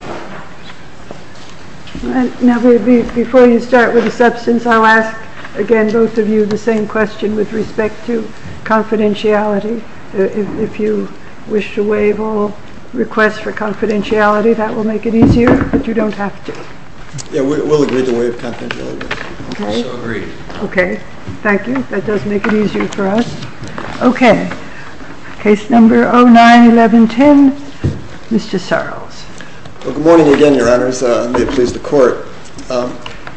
TENTION TO WAIVE QUARTERLINE RENÉE COTTIN. Now before you start with the substance, I'll ask again both of you the same question with respect to confidentiality. If you wish to waive all requests for confidentiality, that will make it easier, but you don't have to. RUBIUS. Yeah, we'll agree to waive confidentiality. REGAN. Okay. MR. SORELLS. So agreed. MS. REGAN. Okay. SORELLS. Well, good morning again, Your Honors. May it please the Court.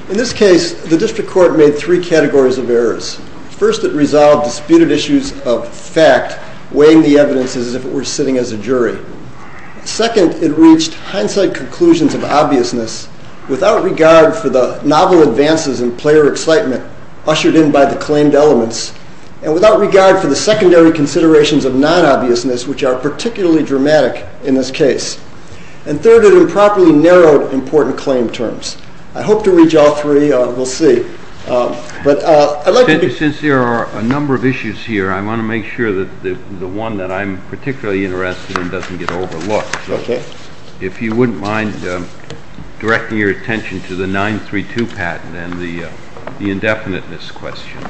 In this case, the District Court made three categories of errors. First it resolved disputed issues of fact, weighing the evidence as if it were sitting as a jury. Second, it reached hindsight conclusions of obviousness without regard for the novel advances in player excitement ushered in by the claimed elements, and without regard for the secondary considerations of non-obviousness, which are particularly dramatic in this case. And third, it improperly narrowed important claim terms. I hope to reach all three. We'll see. But I'd like to be— JUSTICE KENNEDY. Since there are a number of issues here, I want to make sure that the one that I'm particularly interested in doesn't get overlooked. MR. SORELLS. Okay. JUSTICE KENNEDY. If you wouldn't mind directing your attention to the 932 patent and the indefiniteness question,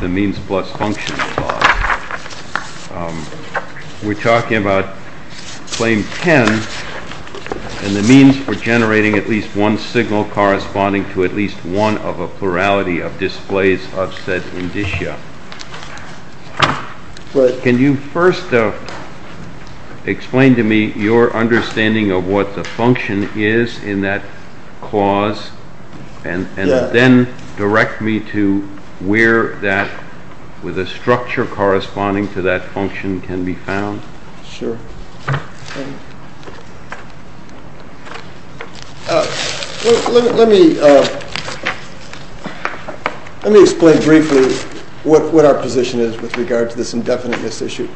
the means plus function clause. We're talking about Claim 10 and the means for generating at least one signal corresponding to at least one of a plurality of displays of said indicia. Can you first explain to me your understanding of what the function is in that clause, and then direct me to where that, with a structure corresponding to that function, can be found? SORELLS. Sure. Let me explain briefly what our position is with regard to this indefiniteness issue.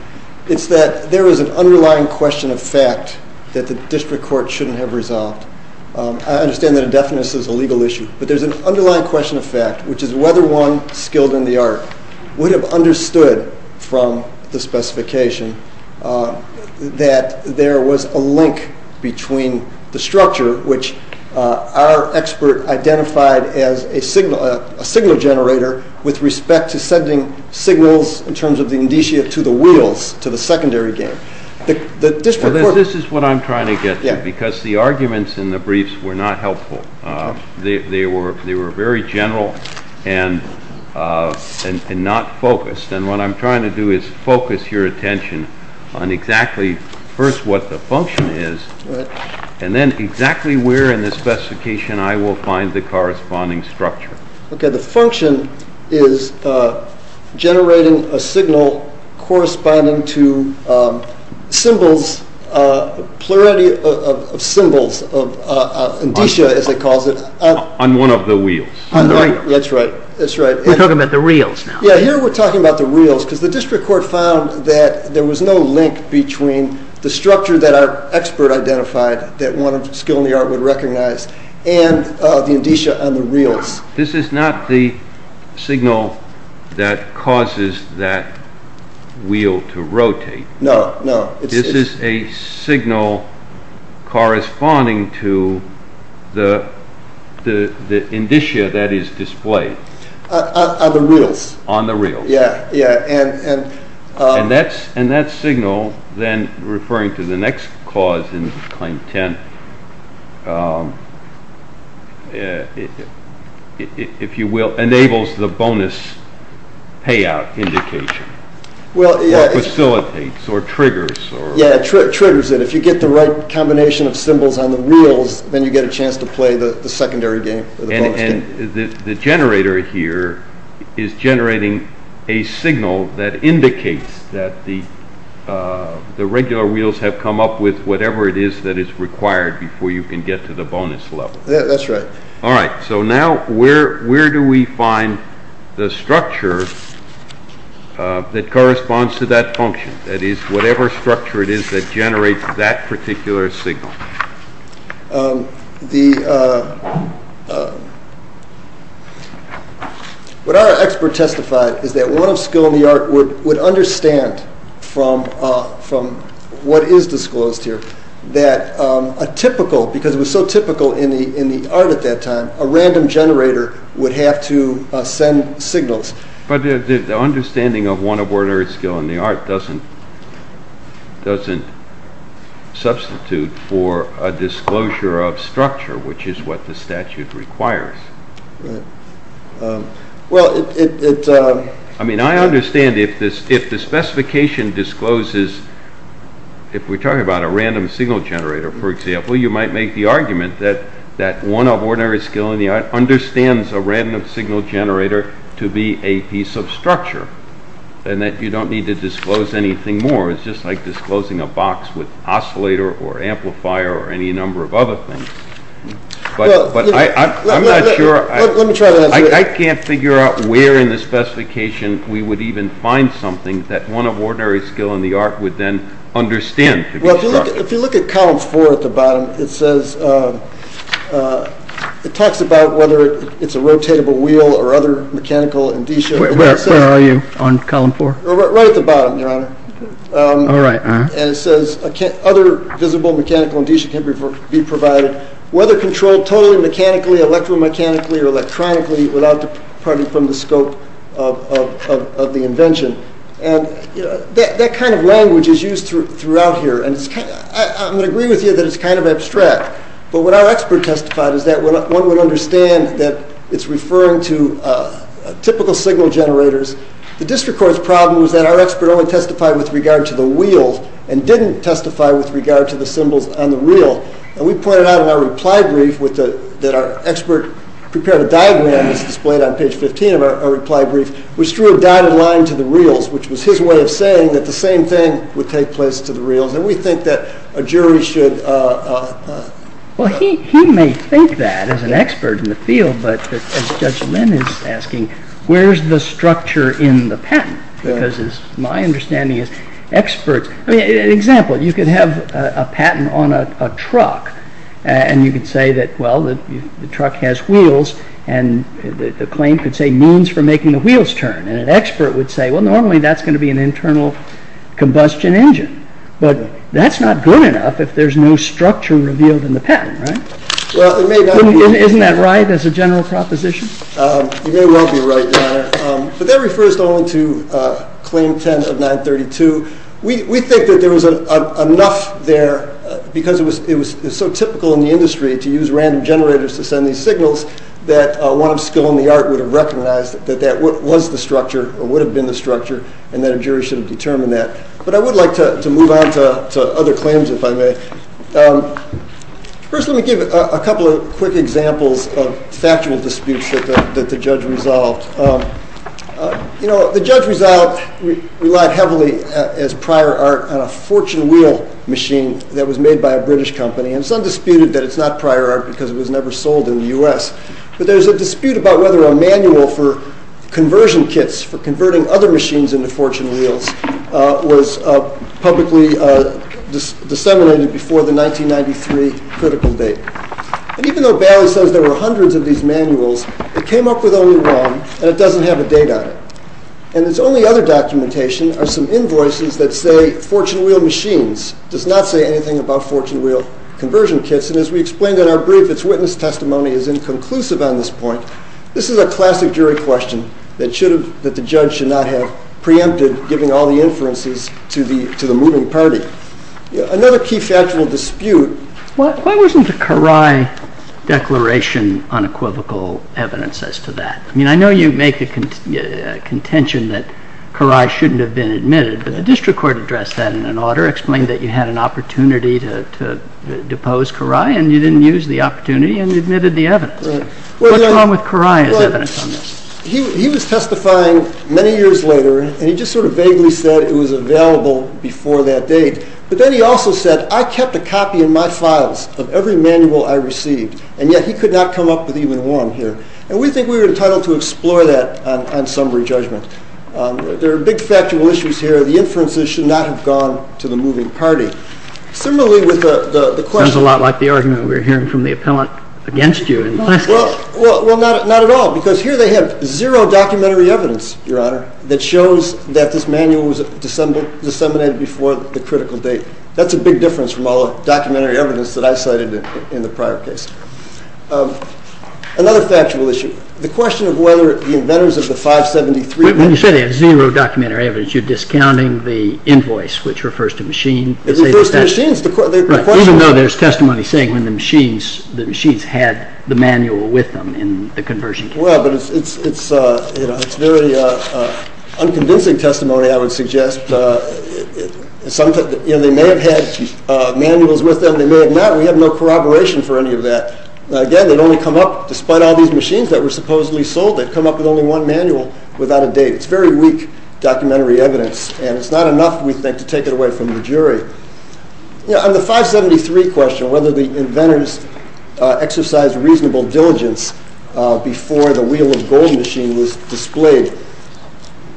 It's that there is an underlying question of fact that the district court shouldn't have resolved. I understand that indefiniteness is a legal issue, but there's an underlying question of fact, which is whether one skilled in the art would have understood from the specification that there was a link between the structure, which our expert identified as a signal generator with respect to sending signals in terms of the indicia to the wheels, to the secondary The district court— JUSTICE KENNEDY. I understand that the specifications in the briefs were not helpful. They were very general and not focused, and what I'm trying to do is focus your attention on exactly, first, what the function is, and then exactly where in the specification I will find the corresponding structure. The function is generating a signal corresponding to symbols, a plurality of symbols, of indicia, as they call it. SORELLS. On one of the wheels. JUSTICE KENNEDY. That's right. That's right. SORELLS. We're talking about the wheels now. JUSTICE KENNEDY. Yeah. Here we're talking about the wheels, because the district court found that there was no link between the structure that our expert identified that one skilled in the art would recognize and the indicia on the wheels. SORELLS. This is not the signal that causes that wheel to rotate. JUSTICE KENNEDY. No. No. SORELLS. This is a signal corresponding to the indicia that is displayed. JUSTICE KENNEDY. On the wheels. SORELLS. On the wheels. JUSTICE KENNEDY. Yeah. Yeah. And— SORELLS. And that signal, then, referring to the next cause in Claim 10, if you will, enables the bonus payout indication, or facilitates, or triggers. JUSTICE KENNEDY. Yeah. It triggers it. If you get the right combination of symbols on the wheels, then you get a chance to play the secondary game, or the bonus game. And the generator here is generating a signal that indicates that the regular wheels have come up with whatever it is that is required before you can get to the bonus level. SORELLS. That's right. JUSTICE KENNEDY. All right. So now, where do we find the structure that corresponds to that function, that is, whatever structure it is that generates that particular signal? SORELLS. What our expert testified is that one of skill in the art would understand from what is disclosed here that a typical, because it was so typical in the art at that time, a random generator would have to send signals. JUSTICE KENNEDY. But the understanding of one of ordinary skill in the art doesn't substitute for a disclosure of structure, which is what the statute requires. SORELLS. Right. Well, it... JUSTICE KENNEDY. I mean, I understand if the specification discloses, if we are talking about a random signal generator, for example, you might make the argument that one of ordinary skill in the art understands a random signal generator to be a piece of structure, and that you don't need to disclose anything more. It is just like disclosing a box with an oscillator or amplifier or any number of other things. But I am not sure. SORELLS. Well, let me try to answer that. JUSTICE KENNEDY. I can't figure out where in the specification we would even find something that one of ordinary skill in the art would then understand to be structure. SORELLS. Well, if you look at Column 4 at the bottom, it says, it talks about whether it is a rotatable wheel or other mechanical indicia. JUSTICE KENNEDY. Where are you on Column 4? SORELLS. Right at the bottom, Your Honor. JUSTICE KENNEDY. All right. SORELLS. And it says, other visible mechanical indicia can be provided, whether controlled totally mechanically, electromechanically, or electronically, without departing from the scope of the invention. And that kind of language is used throughout here, and I am going to agree with you that it is kind of abstract, but what our expert testified is that one would understand that it is referring to typical signal generators. The district court's problem was that our expert only testified with regard to the wheel and didn't testify with regard to the symbols on the reel. And we pointed out in our reply brief that our expert prepared a diagram, as displayed on page 15 of our reply brief, which drew a dotted line to the reels, which was his way of saying that the same thing would take place to the reels. And we think that a jury should— JUSTICE KENNEDY. Well, he may think that as an expert in the field, but as Judge Linn is asking, where is the structure in the patent? Because my understanding is experts—I mean, an example, you could have a patent on a truck, and you could say that, well, the truck has wheels, and the claim could say, means for making the wheels turn. And an expert would say, well, normally that is going to be an internal combustion engine. But that is not good enough if there is no structure revealed in the patent, right? Isn't that right as a general proposition? You may well be right, Your Honor. But that refers only to Claim 10 of 932. We think that there was enough there, because it was so typical in the industry to use random generators to send these signals, that one of skill and the art would have recognized that that was the structure, or would have been the structure, and that a jury should have determined that. But I would like to move on to other claims, if I may. First, let me give a couple of quick examples of factual disputes that the judge resolved. You know, the judge resolved, relied heavily as prior art on a fortune wheel machine that was made by a British company, and some disputed that it is not prior art because it was never sold in the U.S. But there is a dispute about whether a manual for conversion kits, for converting other before the 1993 critical date. And even though Bailey says there were hundreds of these manuals, it came up with only one, and it doesn't have a date on it. And its only other documentation are some invoices that say fortune wheel machines. It does not say anything about fortune wheel conversion kits. And as we explained in our brief, its witness testimony is inconclusive on this point. This is a classic jury question that the judge should not have preempted, giving all the inferences to the moving party. Another key factual dispute... Why wasn't a Karai declaration unequivocal evidence as to that? I mean, I know you make a contention that Karai shouldn't have been admitted, but the district court addressed that in an order, explained that you had an opportunity to depose Karai, and you didn't use the opportunity and admitted the evidence. What's wrong with Karai as evidence on this? He was testifying many years later, and he just sort of vaguely said it was available before that date. But then he also said, I kept a copy in my files of every manual I received, and yet he could not come up with even one here. And we think we were entitled to explore that on summary judgment. There are big factual issues here. The inferences should not have gone to the moving party. Sounds a lot like the argument we were hearing from the appellant against you. Well, not at all, because here they have zero documentary evidence, Your Honor, that shows that this manual was disseminated before the critical date. That's a big difference from all the documentary evidence that I cited in the prior case. Another factual issue. The question of whether the inventors of the 573... When you say they have zero documentary evidence, you're discounting the invoice, which refers to machines. It refers to machines. Even though there's testimony saying the machines had the manual with them in the conversion case. Well, but it's very unconvincing testimony, I would suggest. They may have had manuals with them, they may have not. We have no corroboration for any of that. Again, they'd only come up, despite all these machines that were supposedly sold, they'd come up with only one manual without a date. It's very weak documentary evidence, and it's not enough, we think, to take it away from the jury. On the 573 question, whether the inventors exercised reasonable diligence before the wheel of gold machine was displayed.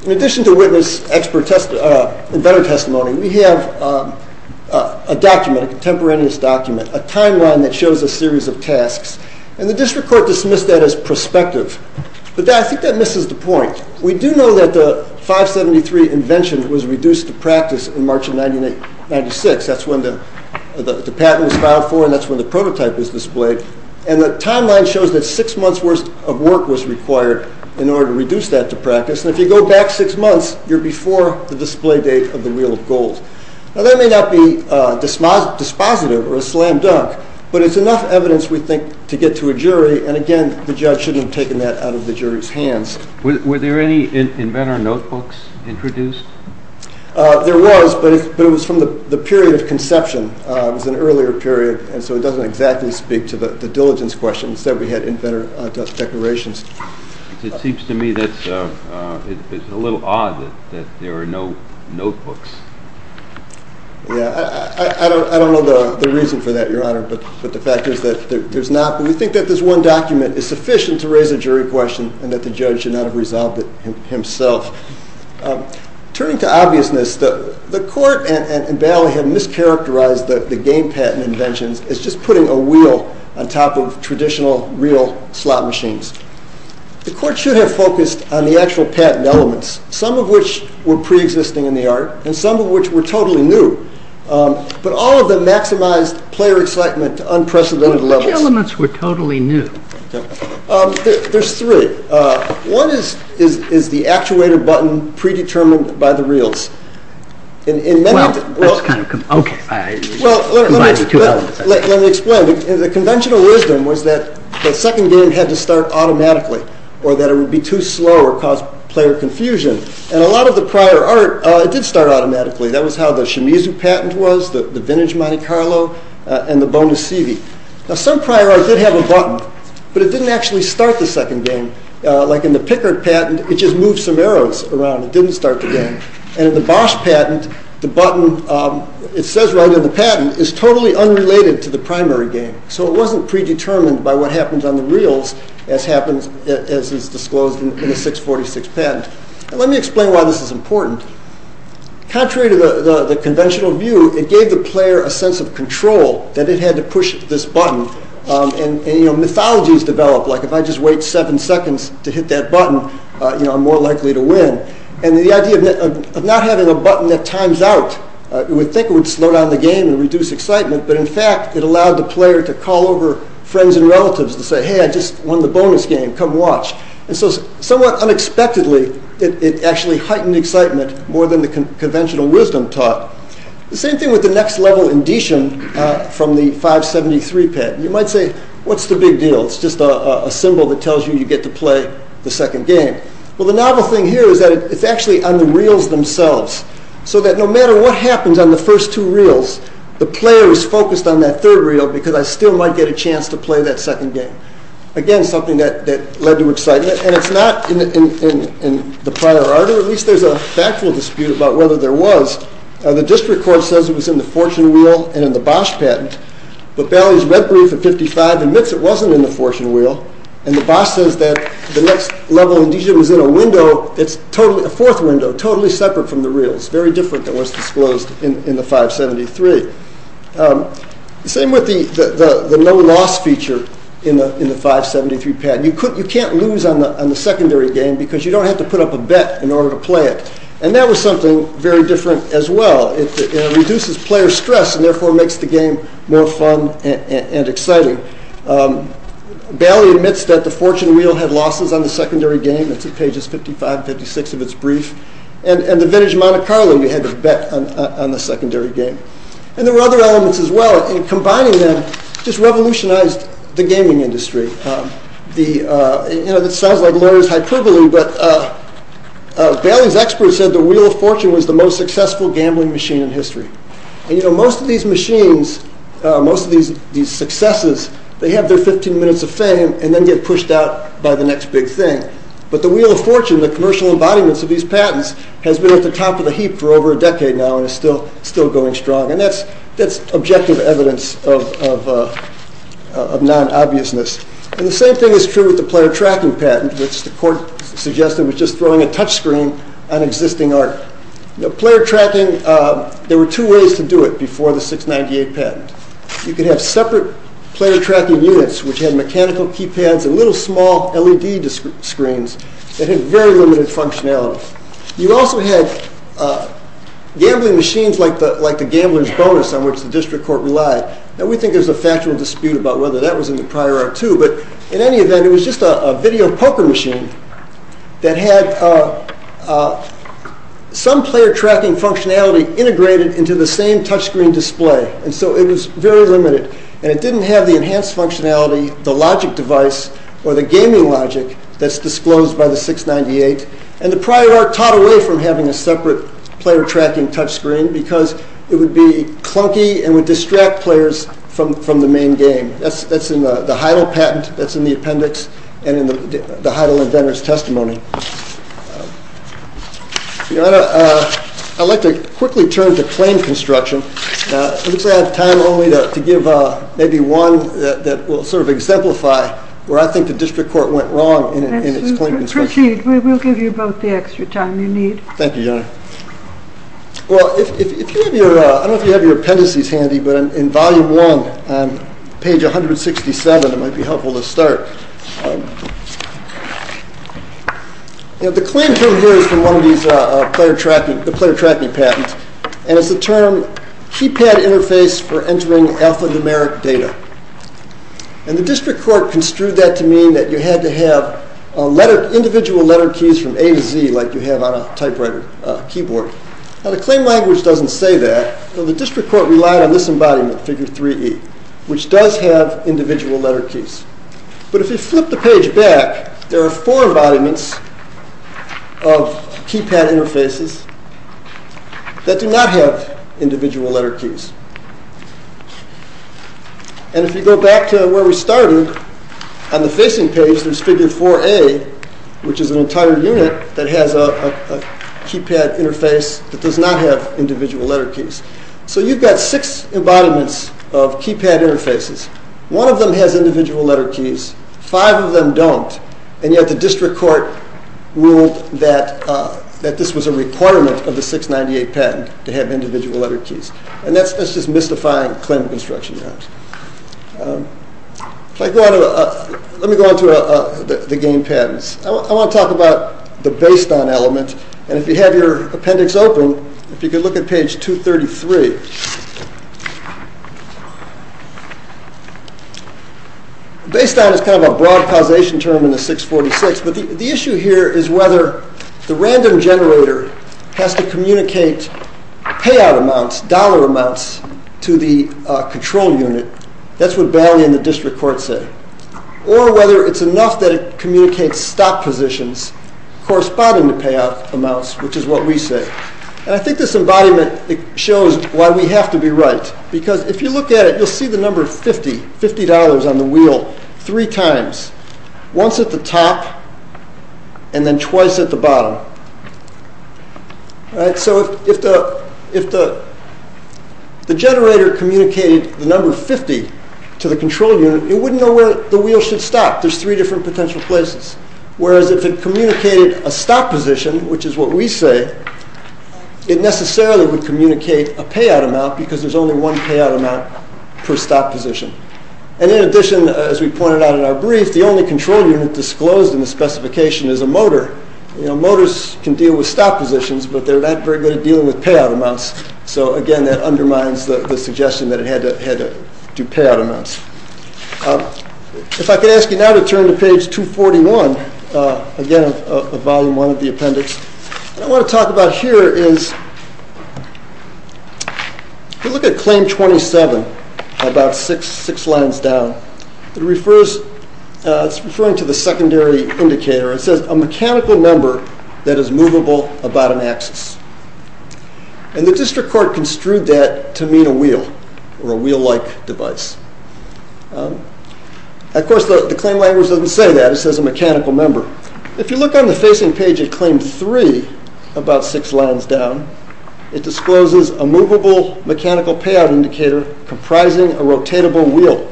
In addition to witness, inventor testimony, we have a document, a contemporaneous document, a timeline that shows a series of tasks. And the district court dismissed that as prospective. But I think that misses the point. We do know that the 573 invention was reduced to practice in March of 1996. That's when the patent was filed for, and that's when the prototype was displayed. And the timeline shows that six months worth of work was required in order to reduce that to practice. And if you go back six months, you're before the display date of the wheel of gold. Now that may not be dispositive or a slam dunk, but it's enough evidence, we think, to get to a jury. And again, the judge shouldn't have taken that out of the jury's hands. Were there any inventor notebooks introduced? There was, but it was from the period of conception. It was an earlier period, and so it doesn't exactly speak to the diligence question. Instead, we had inventor declarations. It seems to me that it's a little odd that there are no notebooks. Yeah, I don't know the reason for that, Your Honor, but the fact is that there's not. But we think that this one document is sufficient to raise a jury question, and that the judge should not have resolved it himself. Turning to obviousness, the court and Bailey had mischaracterized the game patent inventions as just putting a wheel on top of traditional, real slot machines. The court should have focused on the actual patent elements, some of which were preexisting in the art, and some of which were totally new. But all of them maximized player excitement to unprecedented levels. Which elements were totally new? There's three. One is the actuator button predetermined by the reels. Let me explain. The conventional wisdom was that the second game had to start automatically, or that it would be too slow or cause player confusion. And a lot of the prior art, it did start automatically. That was how the Shimizu patent was, the vintage Monte Carlo, and the bonus CV. Now, some prior art did have a button, but it didn't actually start the second game. Like in the Pickard patent, it just moved some arrows around. It didn't start the game. And in the Bosch patent, the button, it says right in the patent, is totally unrelated to the primary game. So it wasn't predetermined by what happens on the reels, as is disclosed in the 646 patent. Now, let me explain why this is important. Contrary to the conventional view, it gave the player a sense of control, that it had to push this button. And mythologies develop, like if I just wait seven seconds to hit that button, I'm more likely to win. And the idea of not having a button that times out, you would think it would slow down the game and reduce excitement. But in fact, it allowed the player to call over friends and relatives to say, hey, I just won the bonus game. Come watch. And so somewhat unexpectedly, it actually heightened excitement more than the conventional wisdom taught. The same thing with the next level indetion from the 573 patent. You might say, what's the big deal? It's just a symbol that tells you you get to play the second game. Well, the novel thing here is that it's actually on the reels themselves. So that no matter what happens on the first two reels, the player is focused on that third reel, because I still might get a chance to play that second game. Again, something that led to excitement. And it's not in the prior order. At least there's a factual dispute about whether there was. The district court says it was in the fortune wheel and in the Bosch patent. But Bailey's red brief at 55 admits it wasn't in the fortune wheel. And the Bosch says that the next level indetion was in a window. It's a fourth window, totally separate from the reels, very different than what's disclosed in the 573. Same with the no loss feature in the 573 patent. You can't lose on the secondary game because you don't have to put up a bet in order to play it. And that was something very different as well. It reduces player stress and therefore makes the game more fun and exciting. Bailey admits that the fortune wheel had losses on the secondary game. It's at pages 55, 56 of its brief. And the vintage Monte Carlo, you had to bet on the secondary game. And there were other elements as well. And combining them just revolutionized the gaming industry. It sounds like Larry's hyperbole, but Bailey's expert said the wheel of fortune was the most successful gambling machine in history. And most of these machines, most of these successes, they have their 15 minutes of fame and then get pushed out by the next big thing. But the wheel of fortune, the commercial embodiments of these patents, has been at the top of the heap for over a decade now and is still going strong. And that's objective evidence of non-obviousness. And the same thing is true with the player tracking patent, which the court suggested was just throwing a touch screen on existing art. Player tracking, there were two ways to do it before the 698 patent. You could have separate player tracking units which had mechanical keypads and little small LED screens that had very limited functionality. You also had gambling machines like the Gambler's Bonus, on which the district court relied. Now we think there's a factual dispute about whether that was in the prior art too, but in any event, it was just a video poker machine that had some player tracking functionality integrated into the same touch screen display. And so it was very limited. And it didn't have the enhanced functionality, the logic device, or the gaming logic that's disclosed by the 698. And the prior art taught away from having a separate player tracking touch screen because it would be clunky and would distract players from the main game. That's in the Heidel patent, that's in the appendix, and in the Heidel and Venner's testimony. I'd like to quickly turn to claim construction. It looks like I have time only to give maybe one that will sort of exemplify where I think the district court went wrong in its claim construction. Proceed, we will give you both the extra time you need. Thank you, Your Honor. Well, I don't know if you have your appendices handy, but in volume one, page 167, it might be helpful to start. The claim from here is from one of these player tracking patents, and it's the term keypad interface for entering alphanumeric data. And the district court construed that to mean that you had to have individual letter keys from A to Z like you have on a typewriter keyboard. Now, the claim language doesn't say that, but the district court relied on this embodiment, figure 3E, which does have individual letter keys. But if you flip the page back, there are four embodiments of keypad interfaces that do not have individual letter keys. And if you go back to where we started, on the facing page, there's figure 4A, which is an entire unit that has a keypad interface that does not have individual letter keys. So you've got six embodiments of keypad interfaces. One of them has individual letter keys. Five of them don't. And yet the district court ruled that this was a requirement of the 698 patent to have individual letter keys. And that's just mystifying claim construction. Let me go on to the game patents. I want to talk about the based-on element. And if you have your appendix open, if you could look at page 233. Based-on is kind of a broad causation term in the 646, but the issue here is whether the random generator has to communicate payout amounts, dollar amounts, to the control unit. That's what Bailey and the district court say. Or whether it's enough that it communicates stop positions corresponding to payout amounts, which is what we say. And I think this embodiment shows why we have to be right. Because if you look at it, you'll see the number 50, $50 on the wheel, three times. Once at the top, and then twice at the bottom. So if the generator communicated the number 50 to the control unit, it wouldn't know where the wheel should stop. There's three different potential places. Whereas if it communicated a stop position, which is what we say, it necessarily would communicate a payout amount because there's only one payout amount per stop position. And in addition, as we pointed out in our brief, the only control unit disclosed in the specification is a motor. Motors can deal with stop positions, but they're not very good at dealing with payout amounts. So again, that undermines the suggestion that it had to do payout amounts. If I could ask you now to turn to page 241, again, of volume one of the appendix. What I want to talk about here is, if you look at claim 27, about six lines down, it's referring to the secondary indicator. It says a mechanical member that is movable about an axis. And the district court construed that to mean a wheel, or a wheel-like device. Of course, the claim language doesn't say that. It says a mechanical member. If you look on the facing page of claim three, about six lines down, it discloses a movable mechanical payout indicator comprising a rotatable wheel.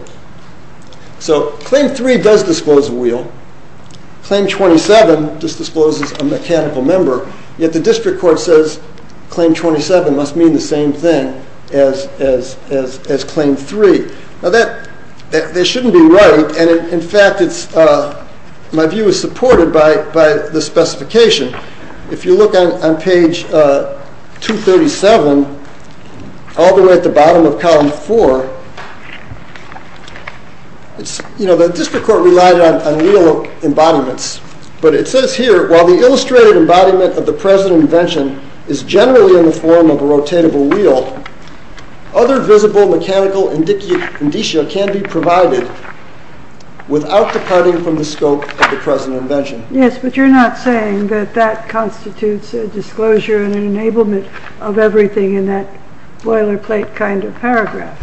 So claim three does disclose a wheel. Claim 27 just discloses a mechanical member. Yet the district court says claim 27 must mean the same thing as claim three. Now, that shouldn't be right. And in fact, my view is supported by the specification. If you look on page 237, all the way at the bottom of column four, the district court relied on wheel embodiments. But it says here, while the illustrated embodiment of the present invention is generally in the form of a rotatable wheel, other visible mechanical indicia can be provided without departing from the scope of the present invention. Yes, but you're not saying that that constitutes a disclosure and an enablement of everything in that boilerplate kind of paragraph.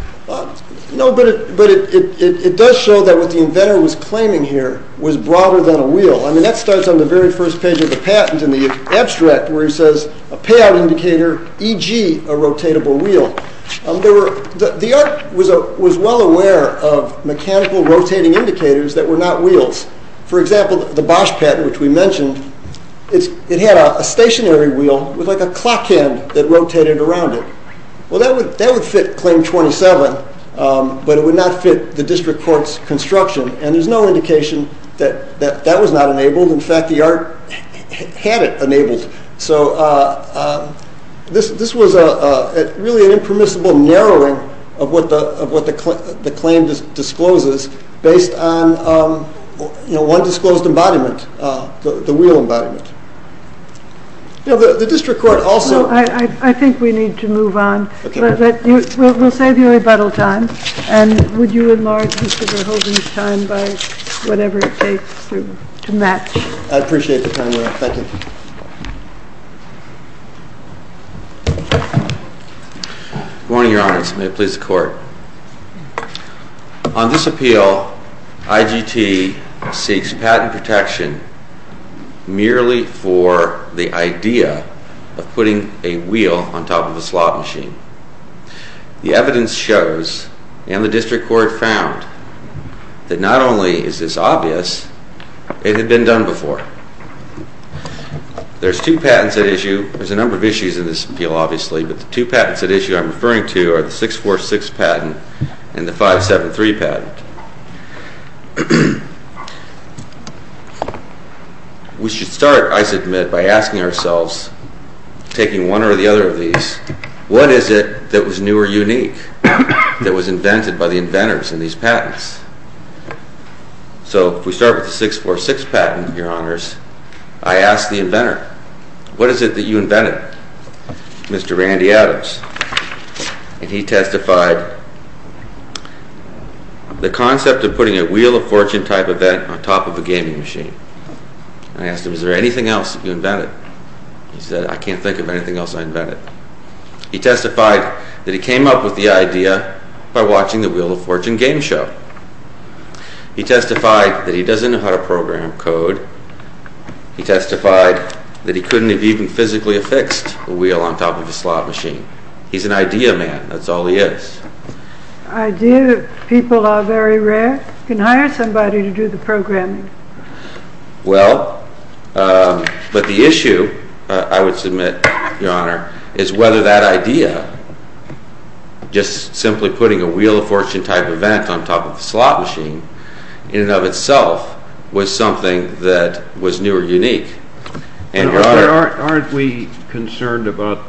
No, but it does show that what the inventor was claiming here was broader than a wheel. That starts on the very first page of the patent in the abstract, where he says a payout indicator, e.g. a rotatable wheel. The art was well aware of mechanical rotating indicators that were not wheels. For example, the Bosch patent, which we mentioned, it had a stationary wheel with a clock hand that rotated around it. Well, that would fit claim 27, but it would not fit the district court's construction. And there's no indication that that was not enabled. In fact, the art had it enabled. So this was really an impermissible narrowing of what the claim discloses based on one disclosed embodiment, the wheel embodiment. The district court also- I think we need to move on. We'll save you rebuttal time. And would you enlarge Mr. Verhoeven's time by whatever it takes to match? I'd appreciate the time, ma'am. Thank you. Good morning, Your Honor. May it please the Court. On this appeal, IGT seeks patent protection merely for the idea of putting a wheel on top of a slot machine. The evidence shows, and the district court found, that not only is this obvious, it had been done before. There's two patents at issue. There's a number of issues in this appeal, obviously. But the two patents at issue I'm referring to are the 646 patent and the 573 patent. We should start, I submit, by asking ourselves, taking one or the other of these, what is it that was new or unique that was invented by the inventors in these patents? So if we start with the 646 patent, Your Honors, I ask the inventor, what is it that you invented, Mr. Randy Adams? And he testified that the company of putting a Wheel of Fortune-type event on top of a gaming machine. I asked him, is there anything else you invented? He said, I can't think of anything else I invented. He testified that he came up with the idea by watching the Wheel of Fortune game show. He testified that he doesn't know how to program code. He testified that he couldn't have even physically affixed a wheel on top of a slot machine. He's an idea man, that's all he is. The idea that people are very rare can hire somebody to do the programming. Well, but the issue, I would submit, Your Honor, is whether that idea, just simply putting a Wheel of Fortune-type event on top of a slot machine, in and of itself was something that was new or unique. And Your Honor... Aren't we concerned about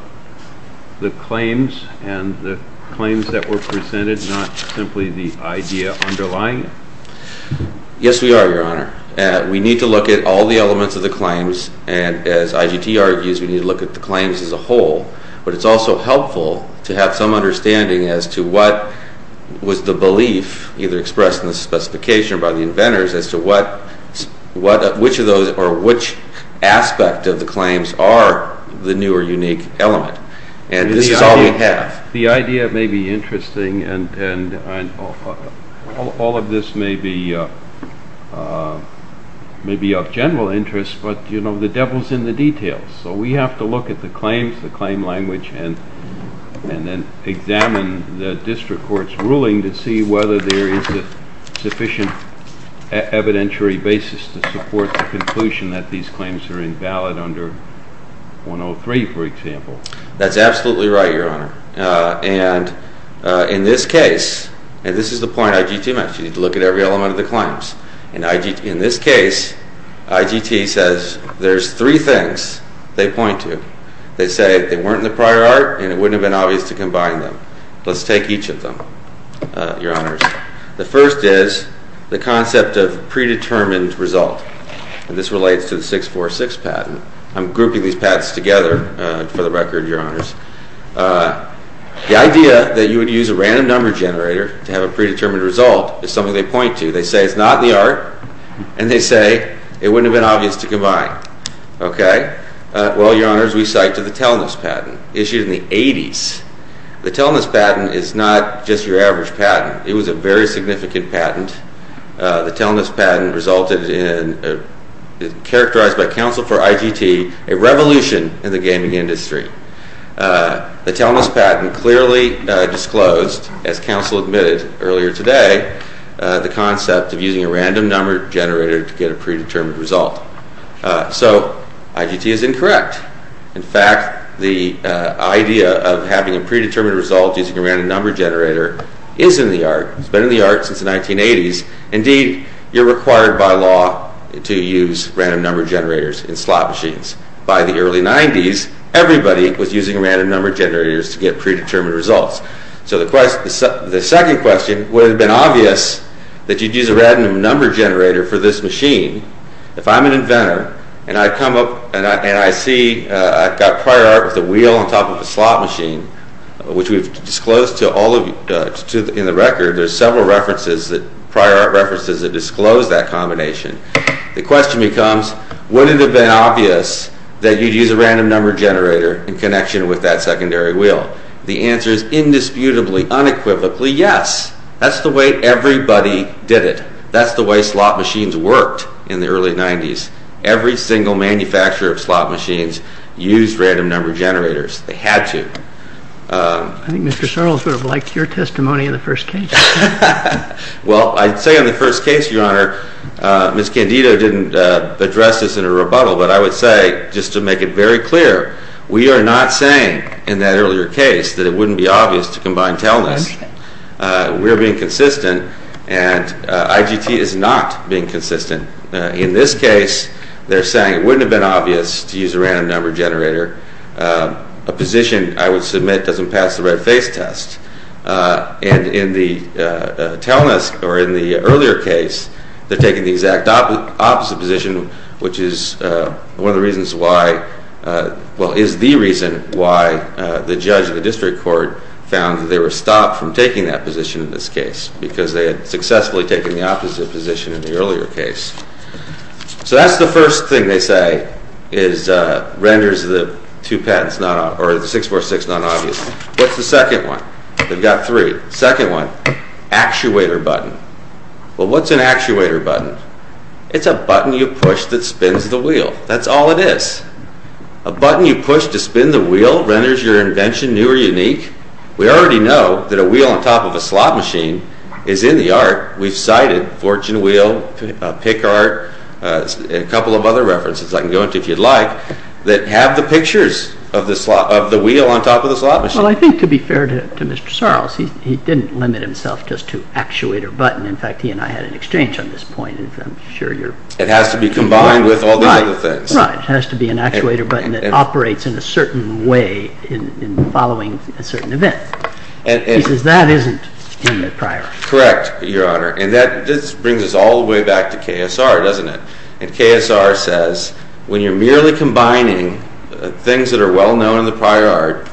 the claims and the claims that were presented, not simply the idea underlying it? Yes, we are, Your Honor. We need to look at all the elements of the claims, and as IGT argues, we need to look at the claims as a whole. But it's also helpful to have some understanding as to what was the belief, either expressed in the specification or by the inventors, as to which aspect of the claims are the new or unique element. And this is all we have. The idea may be interesting, and all of this may be of general interest, but, you know, the devil's in the details. So we have to look at the claims, the claim language, and then examine the district court's ruling to see whether there is a sufficient evidentiary basis to support the conclusion that these claims are invalid under 103, for example. That's absolutely right, Your Honor. And in this case, and this is the point IGT makes, you need to look at every element of the claims. In this case, IGT says there's three things they point to. They say they weren't in the prior art, and it wouldn't have been obvious to combine them. Let's take each of them, Your Honors. The first is the concept of predetermined result. And this relates to the 646 patent. I'm grouping these patents together, for the record, Your Honors. The idea that you would use a random number generator to have a predetermined result is something they point to. They say it's not in the art, and they say it wouldn't have been obvious to combine. Okay. Well, Your Honors, we cite to the Telness patent, issued in the 80s. The Telness patent is not just your average patent. It was a very significant patent. The Telness patent resulted in, characterized by counsel for IGT, a revolution in the gaming industry. The Telness patent clearly disclosed, as counsel admitted earlier today, the concept of using a random number generator to get a predetermined result. So IGT is incorrect. In fact, the idea of having a predetermined result using a random number generator is in the art. It's been in the art since the 1980s. Indeed, you're required by law to use random number generators in slot machines. By the early 90s, everybody was using random number generators to get predetermined results. So the second question would have been obvious that you'd use a random number generator for this machine. If I'm an inventor, and I come up and I see I've got prior art with a wheel on top of a slot machine, which we've disclosed to all of you in the record, there's several prior art references that disclose that combination. The question becomes, would it have been obvious that you'd use a random number generator in connection with that secondary wheel? The answer is indisputably, unequivocally, yes. That's the way everybody did it. That's the way slot machines worked in the early 90s. Every single manufacturer of slot machines used random number generators. They had to. I think Mr. Sarles would have liked your testimony in the first case. Well, I'd say in the first case, Your Honor, Ms. Candido didn't address this in a rebuttal, but I would say, just to make it very clear, we are not saying in that earlier case that it wouldn't be obvious to combine Telnes. We're being consistent, and IGT is not being consistent. In this case, they're saying it wouldn't have been obvious to use a random number generator. A position, I would submit, doesn't pass the red face test. And in the Telnes, or in the earlier case, they're taking the exact opposite position, which is one of the reasons why, well, is the reason why the judge of the district court found that they were stopped from taking that position in this case, because they had successfully taken the opposite position in the earlier case. So that's the first thing they say renders the 646 non-obvious. What's the second one? They've got three. Second one, actuator button. Well, what's an actuator button? It's a button you push that spins the wheel. That's all it is. A button you push to spin the wheel renders your invention new or unique. We already know that a wheel on top of a slot machine is in the art. We've cited fortune wheel, pick art, and a couple of other references I can go into if you'd like, that have the pictures of the wheel on top of the slot machine. Well, I think, to be fair to Mr. Sarles, he didn't limit himself just to actuator button. In fact, he and I had an exchange on this point. I'm sure you're... It has to be combined with all the other things. Right. It has to be an actuator button that operates in a certain way in following a certain event. He says that isn't in the prior art. Correct, Your Honor. And this brings us all the way back to KSR, doesn't it? And KSR says, when you're merely combining things that are well known in the prior art,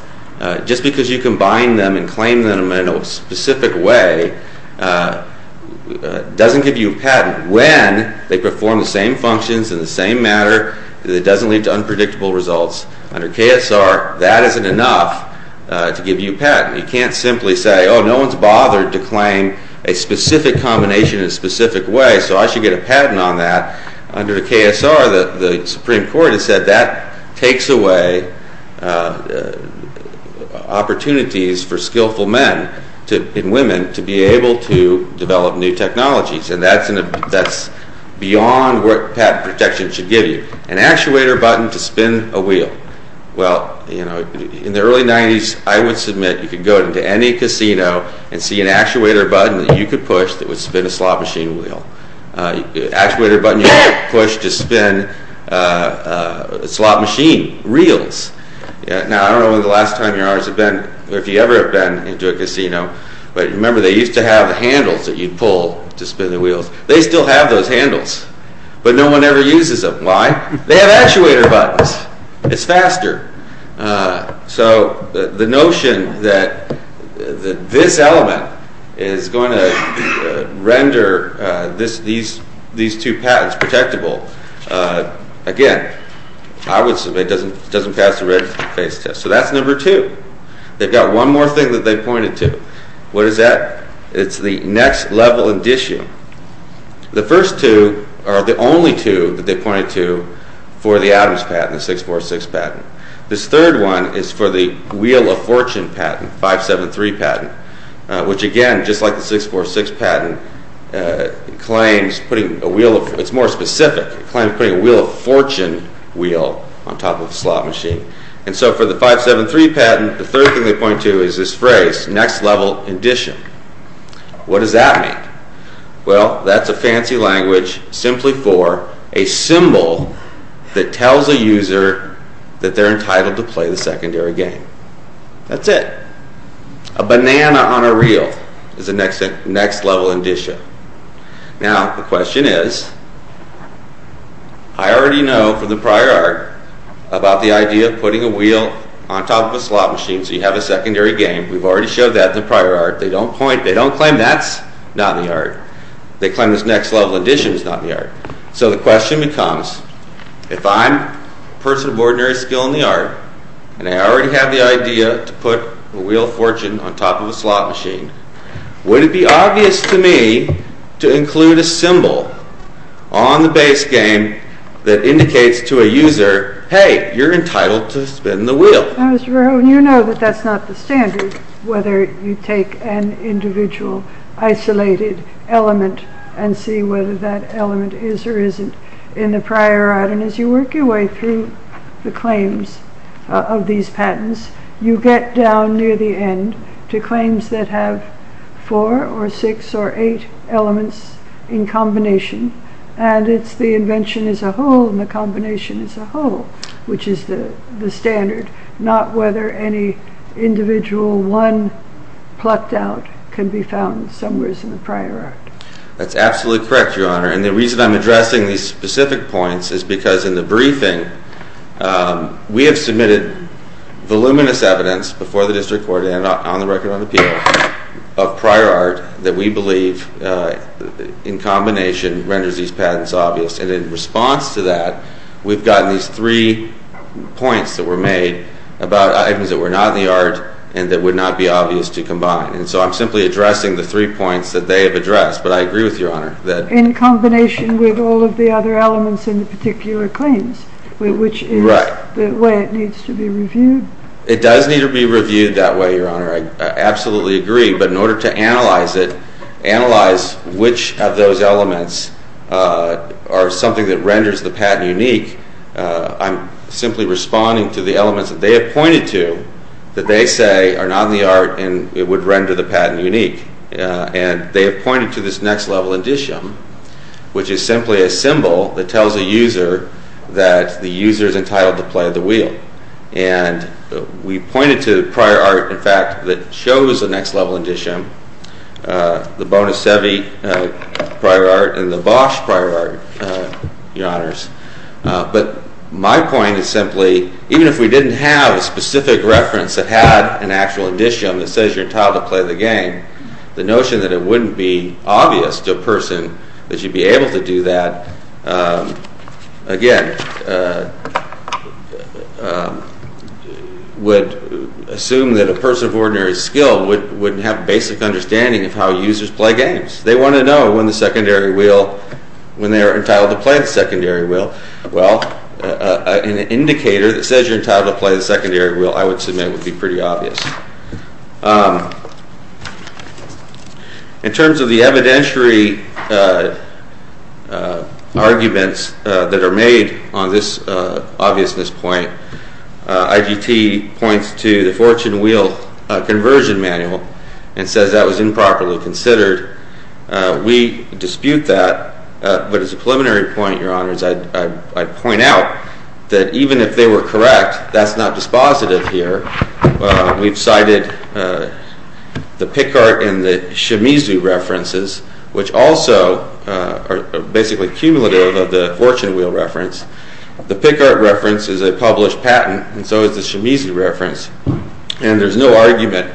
just because you combine them and claim them in a specific way doesn't give you a patent. When they perform the same functions in the same matter that doesn't lead to unpredictable results under KSR, that isn't enough to give you a patent. You can't simply say, oh, no one's bothered to claim a specific combination in a specific way so I should get a patent on that. Under KSR, the Supreme Court has said that takes away opportunities for skillful men and women to be able to develop new technologies. And that's beyond what patent protection should give you. An actuator button to spin a wheel. In the early 90s, I would submit you could go into any casino and see an actuator button that you could push that would spin a slot machine wheel. An actuator button you could push to spin slot machine reels. Now, I don't know if you ever have been into a casino, but remember they used to have handles that you'd pull to spin the wheels. They still have those handles. But no one ever uses them. Why? They have actuator buttons. It's faster. So the notion that this element is going to render these two patents protectable again, I would submit doesn't pass the red face test. So that's number two. They've got one more thing that they pointed to. What is that? It's the next level in dishing. The first two are the only two that they pointed to for the Adams patent, the 646 patent. This third one is for the Wheel of Fortune patent, 573 patent, which again just like the 646 patent claims putting a wheel of, it's more specific, putting a Wheel of Fortune wheel on top of a slot machine. And so for the 573 patent, the third thing they point to is this phrase, next level in dishing. What does that mean? Well, that's a fancy language simply for a symbol that tells a user that they're entitled to play the secondary game. That's it. A banana on a reel is a next level in dishing. Now, the question is I already know from the prior art about the idea of putting a wheel on top of a slot machine so you have a secondary game. We've already showed that in the prior art. They don't claim that's not in the art. They claim this next level in dishing is not in the art. So the question becomes if I'm a person of ordinary skill in the art and I already have the idea to put a Wheel of Fortune on top of a slot machine, would it be obvious to me to include a symbol on the base game that indicates to a user hey, you're entitled to spin the wheel. Now Mr. Verhoeven, you know that that's not the standard whether you take an individual isolated element and see whether that element is or isn't in the prior art. And as you work your way through the claims of these patents, you get down near the end to claims that have four or six or eight elements in combination and it's the invention as a whole and the combination as a whole which is the standard not whether any individual one plucked out can be found somewhere in the prior art. That's absolutely correct Your Honor, and the reason I'm addressing these specific points is because in the briefing, we have submitted voluminous evidence before the district court and on the of prior art that we believe in combination renders these patents obvious and in response to that we've gotten these three points that were made about items that were not in the art and that would not be obvious to combine. And so I'm simply addressing the three points that they have addressed but I agree with Your Honor. In combination with all of the other elements in the particular claims which is the way it needs to be reviewed. It does need to be reviewed that way, Your Honor. I absolutely agree but in order to analyze it analyze which of those elements are something that renders the patent unique I'm simply responding to the elements that they have pointed to that they say are not in the art and it would render the patent unique and they have pointed to this next level indicium which is simply a symbol that tells a user that the user is entitled to play the wheel and we pointed to prior art in fact that shows the next level indicium the Bona Sevi prior art and the Bosch prior art Your Honors. But my point is simply even if we didn't have a specific reference that had an actual indicium that says you're entitled to play the game, the notion that it wouldn't be obvious to a person that you'd be able to do that again would assume that a person of ordinary skill wouldn't have basic understanding of how users play games. They want to know when the secondary wheel when they are entitled to play the secondary wheel. Well an indicator that says you're entitled to play the secondary wheel I would submit would be pretty obvious. In terms of the evidentiary arguments that are made on this obviousness point IGT points to the fortune wheel conversion manual and says that was improperly considered. We dispute that but as a preliminary point Your Honors I'd point out that even if they were correct that's not dispositive here. We've cited the Picard and the Shimizu references which also are basically cumulative of the fortune wheel reference. The Picard reference is a published patent and so is the Shimizu reference and there's no argument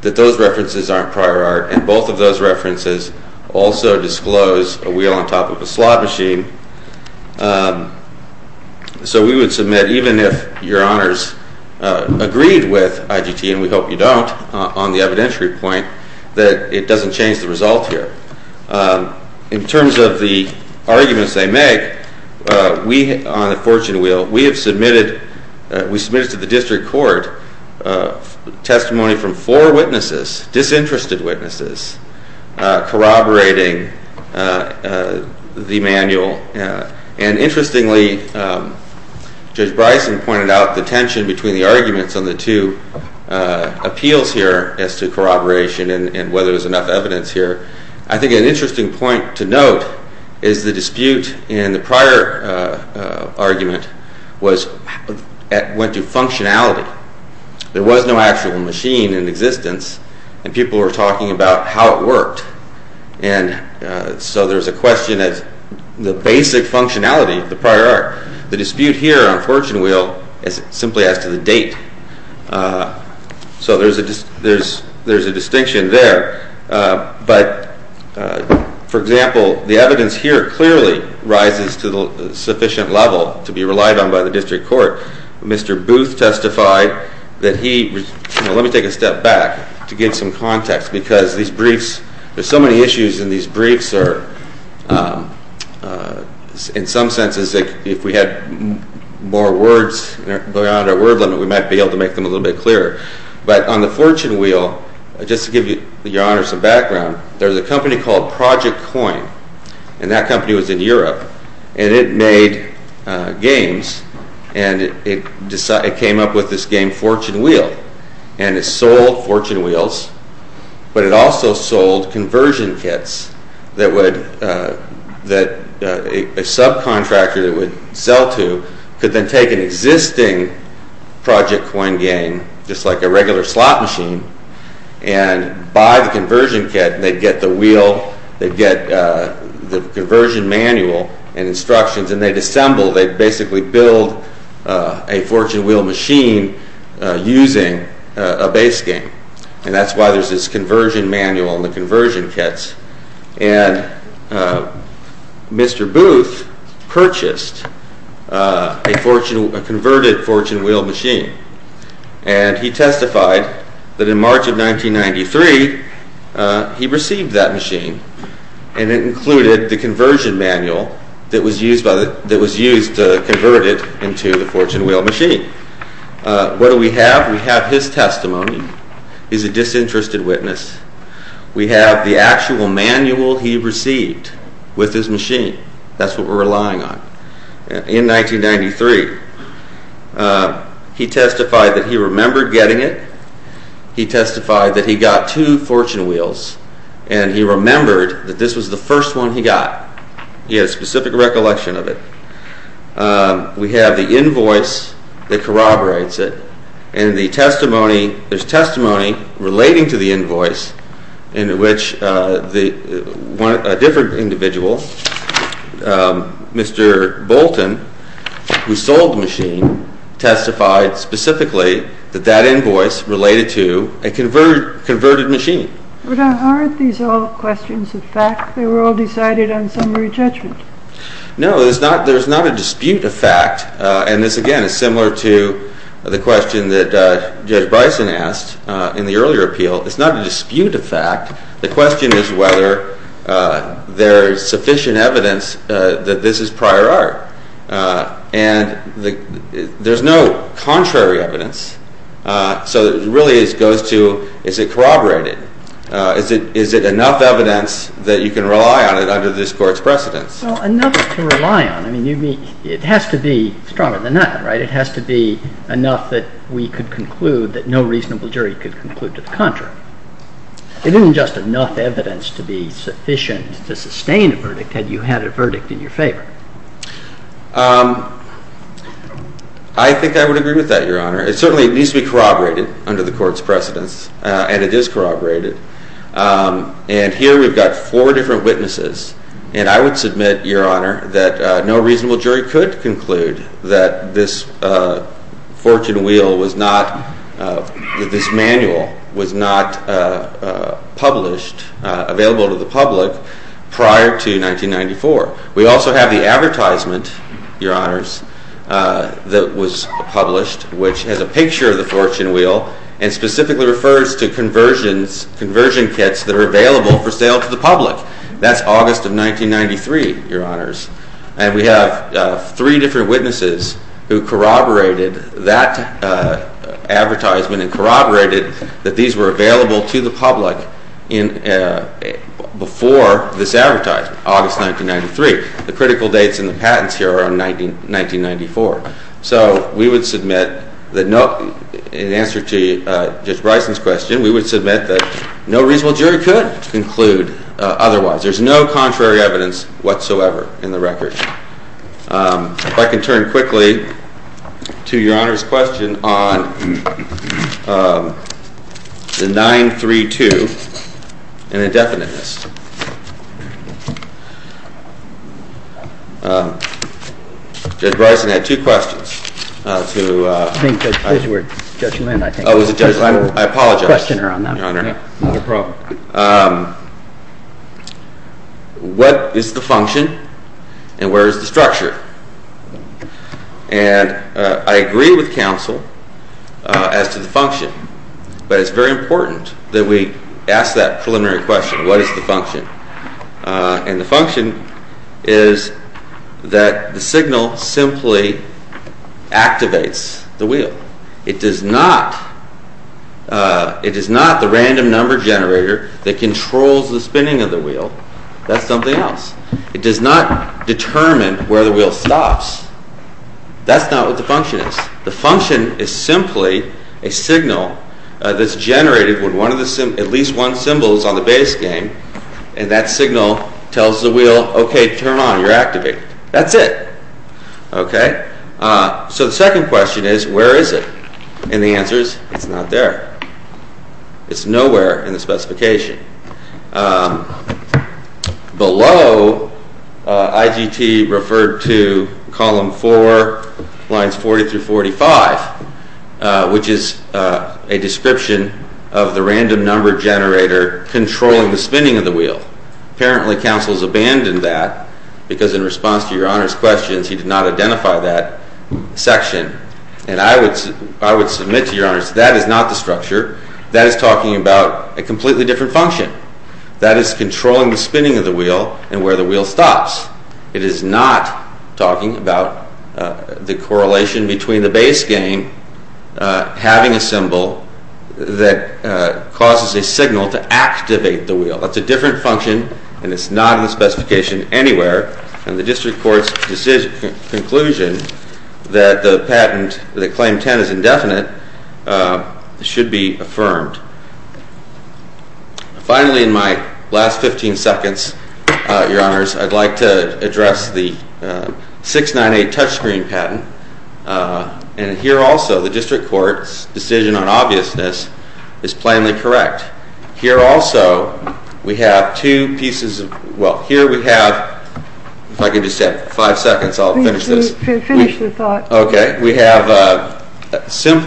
that those references aren't prior art and both of those references also disclose a wheel on top of a slot machine. So we would submit even if Your Honors agreed with IGT and we hope you don't on the evidentiary point that it doesn't change the result here. In terms of the arguments they make on the fortune wheel we have submitted to the district court testimony from four witnesses, disinterested witnesses corroborating the manual and interestingly Judge Bryson pointed out the tension between the arguments on the two appeals here as to corroboration and whether there's enough evidence here. I think an interesting point to note is the dispute in the prior argument went to functionality. There was no actual machine in existence and people were talking about how it worked so there's a question of the basic functionality of the prior art. The dispute here on fortune wheel is simply as to the date so there's a distinction there but for example the evidence here clearly rises to the sufficient level to be relied on by the district court. Mr. Booth testified that he let me take a step back to give some context because these briefs there's so many issues in these briefs are in some senses if we had more words beyond our word limit we might be able to make them a little bit clearer but on the fortune wheel, just to give your honor some background, there's a company called Project Coin and that company was in Europe and it made games and it came up with this game fortune wheel and it sold fortune wheels but it also sold conversion kits that a subcontractor that would sell to could then take an existing Project Coin game just like a regular slot machine and buy the conversion kit and they'd get the wheel they'd get the conversion manual and instructions and they'd assemble, they'd basically build a fortune wheel machine using a base game and that's why there's this conversion manual and the conversion kits and Mr. Booth purchased a converted fortune wheel machine and he testified that in March of 1993 he received that machine and it included the conversion manual that was used to convert it into the fortune wheel machine what do we have? We have his testimony he's a disinterested witness we have the actual manual he received with his machine that's what we're relying on in 1993 he testified that he remembered getting it he testified that he got two fortune wheels and he remembered that this was the first one he got he had a specific recollection of it we have the invoice that corroborates it and the testimony there's testimony relating to the invoice in which a different individual Mr. Bolton who sold the machine testified specifically that that invoice related to a converted machine but aren't these all questions of fact? They were all decided on summary judgment. No there's not a dispute of fact and this again is similar to the question that Judge Bison asked in the earlier appeal it's not a dispute of fact the question is whether there's sufficient evidence that this is prior art and there's no contrary evidence so it really goes to is it corroborated? is it enough evidence that you can rely on it under this court's precedence? Well enough to rely on it has to be stronger than nothing right? It has to be enough that we could conclude that no reasonable jury could conclude to the contrary. It isn't just enough evidence to be sufficient to sustain a verdict had you had a verdict in your favor. I think I would agree with that Your Honor it certainly needs to be corroborated under the court's precedence and it is corroborated and here we've got four different witnesses and I would submit Your Honor that no reasonable jury could conclude that this fortune wheel was not that this manual was not published, available to the public prior to 1994. We also have the advertisement Your Honors that was published which has a picture of the fortune wheel and specifically refers to conversions conversion kits that are available for sale to the public. That's August of 1993 Your Honors and we have three different witnesses who corroborated that advertisement and corroborated that these were available to the public before this advertisement, August 1993. The critical dates in the patents here are 1994. So we would submit that in answer to Judge Bryson's question we would submit that no reasonable jury could conclude otherwise. There's no contrary evidence whatsoever in the case. So I can turn quickly to Your Honor's question on the 932 and indefiniteness. Judge Bryson had two questions to I think it was Judge Lynn I think. I apologize. No problem. What is the function and where is the structure? And I agree with counsel as to the function but it's very important that we ask that preliminary question. What is the function? And the function is that the signal simply activates the wheel. It does not it is not the random number generator that controls the spinning of the wheel. That's something else. It does not determine where the wheel stops. That's not what the function is. The function is simply a signal that's generated when one of the at least one symbol is on the base game and that signal tells the wheel, okay, turn on, you're activated. That's it. So the second question is where is it? And the answer is it's not there. It's nowhere in the specification. Below IGT referred to column 4 lines 40 through 45 which is a description of the random number generator controlling the spinning of the wheel. Apparently counsel has abandoned that because in response to your honors questions he did not identify that section and I would submit to your honors that is not the structure. That is talking about a completely different function. That is controlling the spinning of the wheel and where the wheel stops. It is not talking about the correlation between the base game having a symbol that causes a signal to activate the wheel. That's a different function and it's not in the specification anywhere and the district court's conclusion that the patent, that claim 10 is indefinite should be affirmed. Finally in my last 15 seconds your honors I'd like to address the 698 touchscreen patent and here also the district court's decision on obviousness is plainly correct. Here also we have two pieces of, well here we have if I could just have five seconds I'll finish this. We have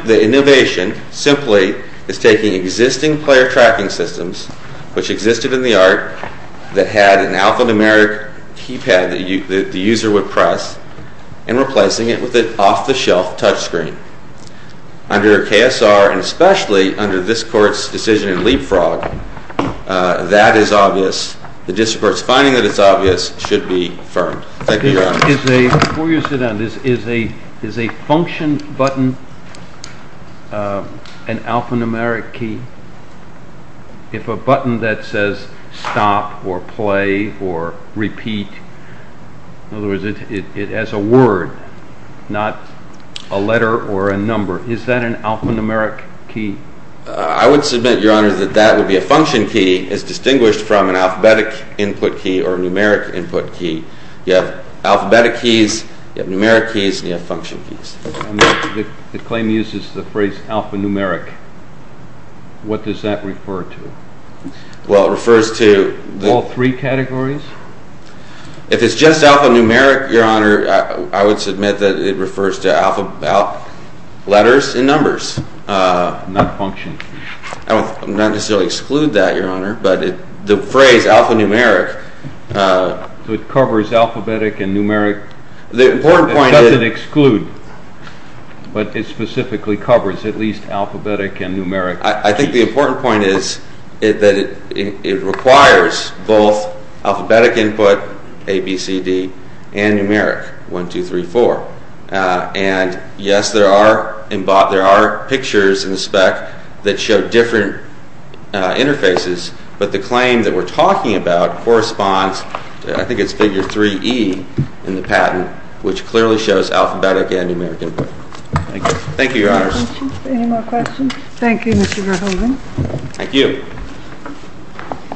the innovation simply is taking existing player tracking systems which existed in the art that had an alphanumeric keypad that the user would press and replacing it with an off-the-shelf touchscreen. Under KSR and especially under this court's decision in leapfrog that is obvious. The district court's finding that it's obvious should be affirmed. Thank you your honors. Is a function button an alphanumeric key? If a button that says stop or play or repeat in other words it has a word not a letter or a number is that an alphanumeric key? I would submit your honors that that would be a function key as distinguished from an alphabetic input key or numeric input key. You have alphabetic keys, you have numeric keys and you have function keys. The claim uses the phrase alphanumeric. What does that refer to? Well it refers to... All three categories? If it's just alphanumeric your honor I would submit that it refers to letters and numbers. Not function keys. I don't necessarily exclude that your honor but the phrase alphanumeric So it covers alphabetic and numeric? It doesn't exclude but it specifically covers at least alphabetic and numeric. I think the important point is that it requires both alphabetic input A, B, C, D and numeric 1, 2, 3, 4 and yes there are pictures in the spec that show different interfaces but the claim that we're talking about corresponds I think it's figure 3E in the patent which clearly shows alphabetic and numeric input. Thank you your honors. Any more questions? Thank you Mr. Verhoeven. Thank you.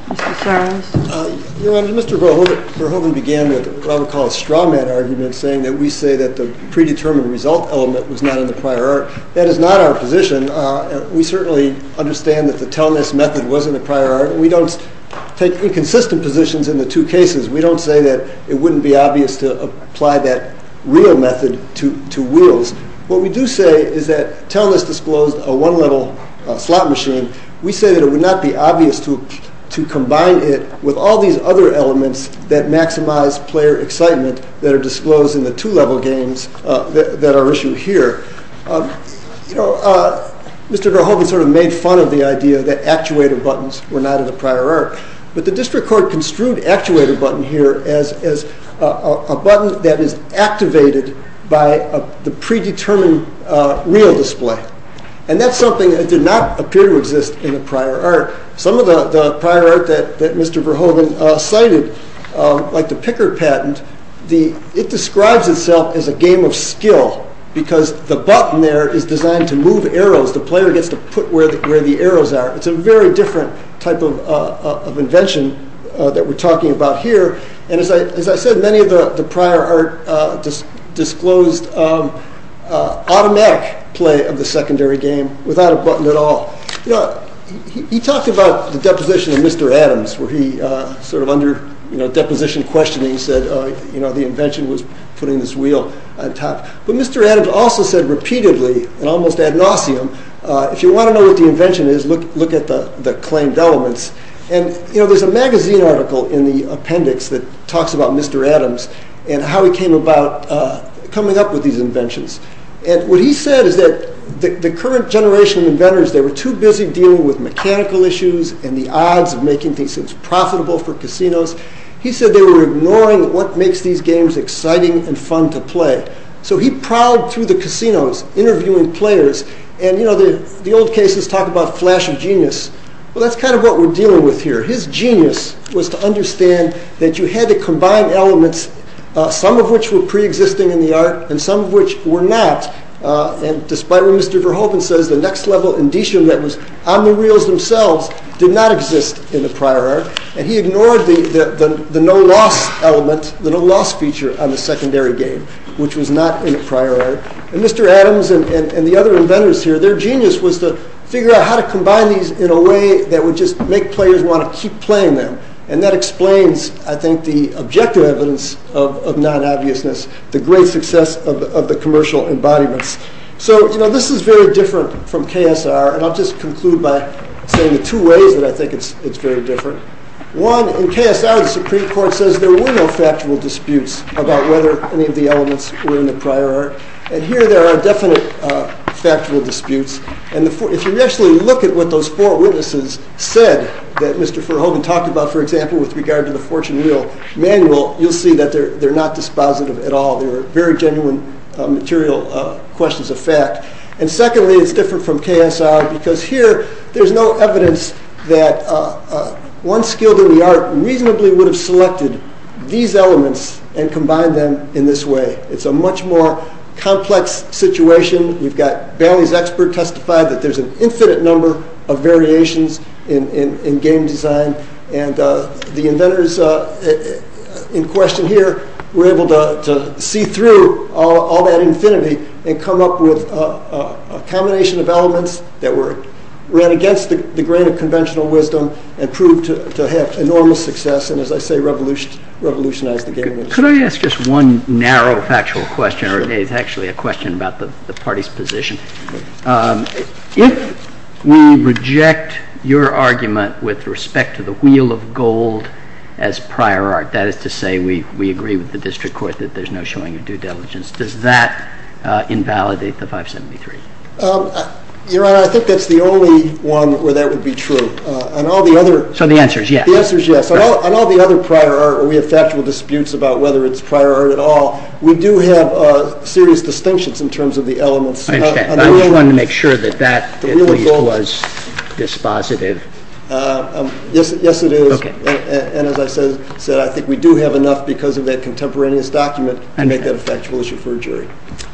Mr. Sarles. Your honor, Mr. Verhoeven began with what I would call a straw man argument saying that we say that the predetermined result element was not in the prior art. That is not our position. We certainly understand that the tellness method was in the prior art. We don't take inconsistent positions in the two cases. We don't say that it wouldn't be obvious to apply that real method to wheels. What we do say is that tellness disclosed a one level slot machine. We say that it would not be obvious to combine it with all these other elements that maximize player excitement that are disclosed in the two level games that are issued here. You know, Mr. Verhoeven sort of made fun of the idea that actuator buttons were not in the prior art. But the district court construed actuator button here as a button that is activated by the predetermined real display. And that's something that did not appear to exist in the prior art. Some of the prior art that Mr. Verhoeven cited, like the picker patent, it describes itself as a game of skill because the button there is designed to move arrows. The player gets to put it where the arrows are. It's a very different type of invention that we're talking about here. And as I said, many of the prior art disclosed automatic play of the secondary game without a button at all. He talked about the deposition of Mr. Adams where he under deposition questioning said the invention was putting this wheel on top. But Mr. Adams also said repeatedly and almost ad nauseum, if you want to know what the invention is, look at the claimed elements. There's a magazine article in the appendix that talks about Mr. Adams and how he came about coming up with these inventions. And what he said is that the current generation of inventors, they were too busy dealing with mechanical issues and the odds of making things profitable for casinos. He said they were ignoring what makes these games exciting and fun to play. So he prowled through the casinos interviewing players and the old cases talk about flash of genius. Well that's kind of what we're dealing with here. His genius was to understand that you had to combine elements, some of which were pre-existing in the art and some of which were not. And despite what Mr. Verhoeven says, the next level that was on the wheels themselves did not exist in the prior art and he ignored the no loss element, the no loss feature on the secondary game, which was not in the prior art. And Mr. Adams and the other inventors here, their genius was to figure out how to combine these in a way that would just make players want to keep playing them. And that explains, I think, the objective evidence of non-obviousness, the great success of the commercial embodiments. So, you know, this is very different from KSR and I'll just conclude by saying the two ways that I think it's very different. One, in KSR the Supreme Court says there were no factual disputes about whether any of the elements were in the prior art. And here there are definite factual disputes and if you actually look at what those four witnesses said that Mr. Verhoeven talked about, for example, with regard to the fortune wheel manual, you'll see that they're not dispositive at all. They were very genuine material questions of fact. And secondly, it's different from KSR because here there's no evidence that one skilled in the art reasonably would have selected these elements and combined them in this way. It's a much more complex situation. We've got Bailey's expert testify that there's an infinite number of variations in game design and the inventors in question here were able to see through all that infinity and come up with a combination of elements that ran against the grain of conventional wisdom and proved to have enormous success and, as I say, revolutionized the game industry. Could I ask just one narrow factual question? It's actually a question about the party's position. If we reject your argument with respect to the wheel of gold as prior art, that is to say we agree with the district court that there's no showing of due diligence, does that invalidate the 573? Your Honor, I think that's the only one where that would be true. The answer is yes. On all the other prior art, we have factual disputes about whether it's prior art at all. We do have serious distinctions in terms of the elements. I understand. I just wanted to make sure that that at least was dispositive. Yes, it is. As I said, I think we do have enough because of that contemporaneous document to make that a factual issue for a jury.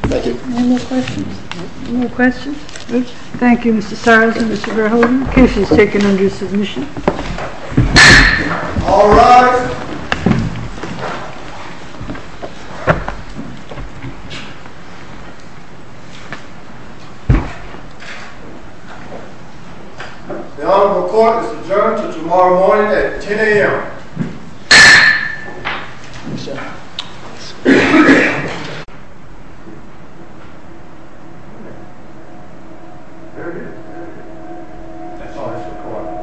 Thank you. Any more questions? No questions? Thank you, Mr. Cyrus and Mr. Verhoeven. The case is taken under submission. All rise. The Honorable Court is adjourned until tomorrow morning at 10 a.m. There he is. That's all that's recorded.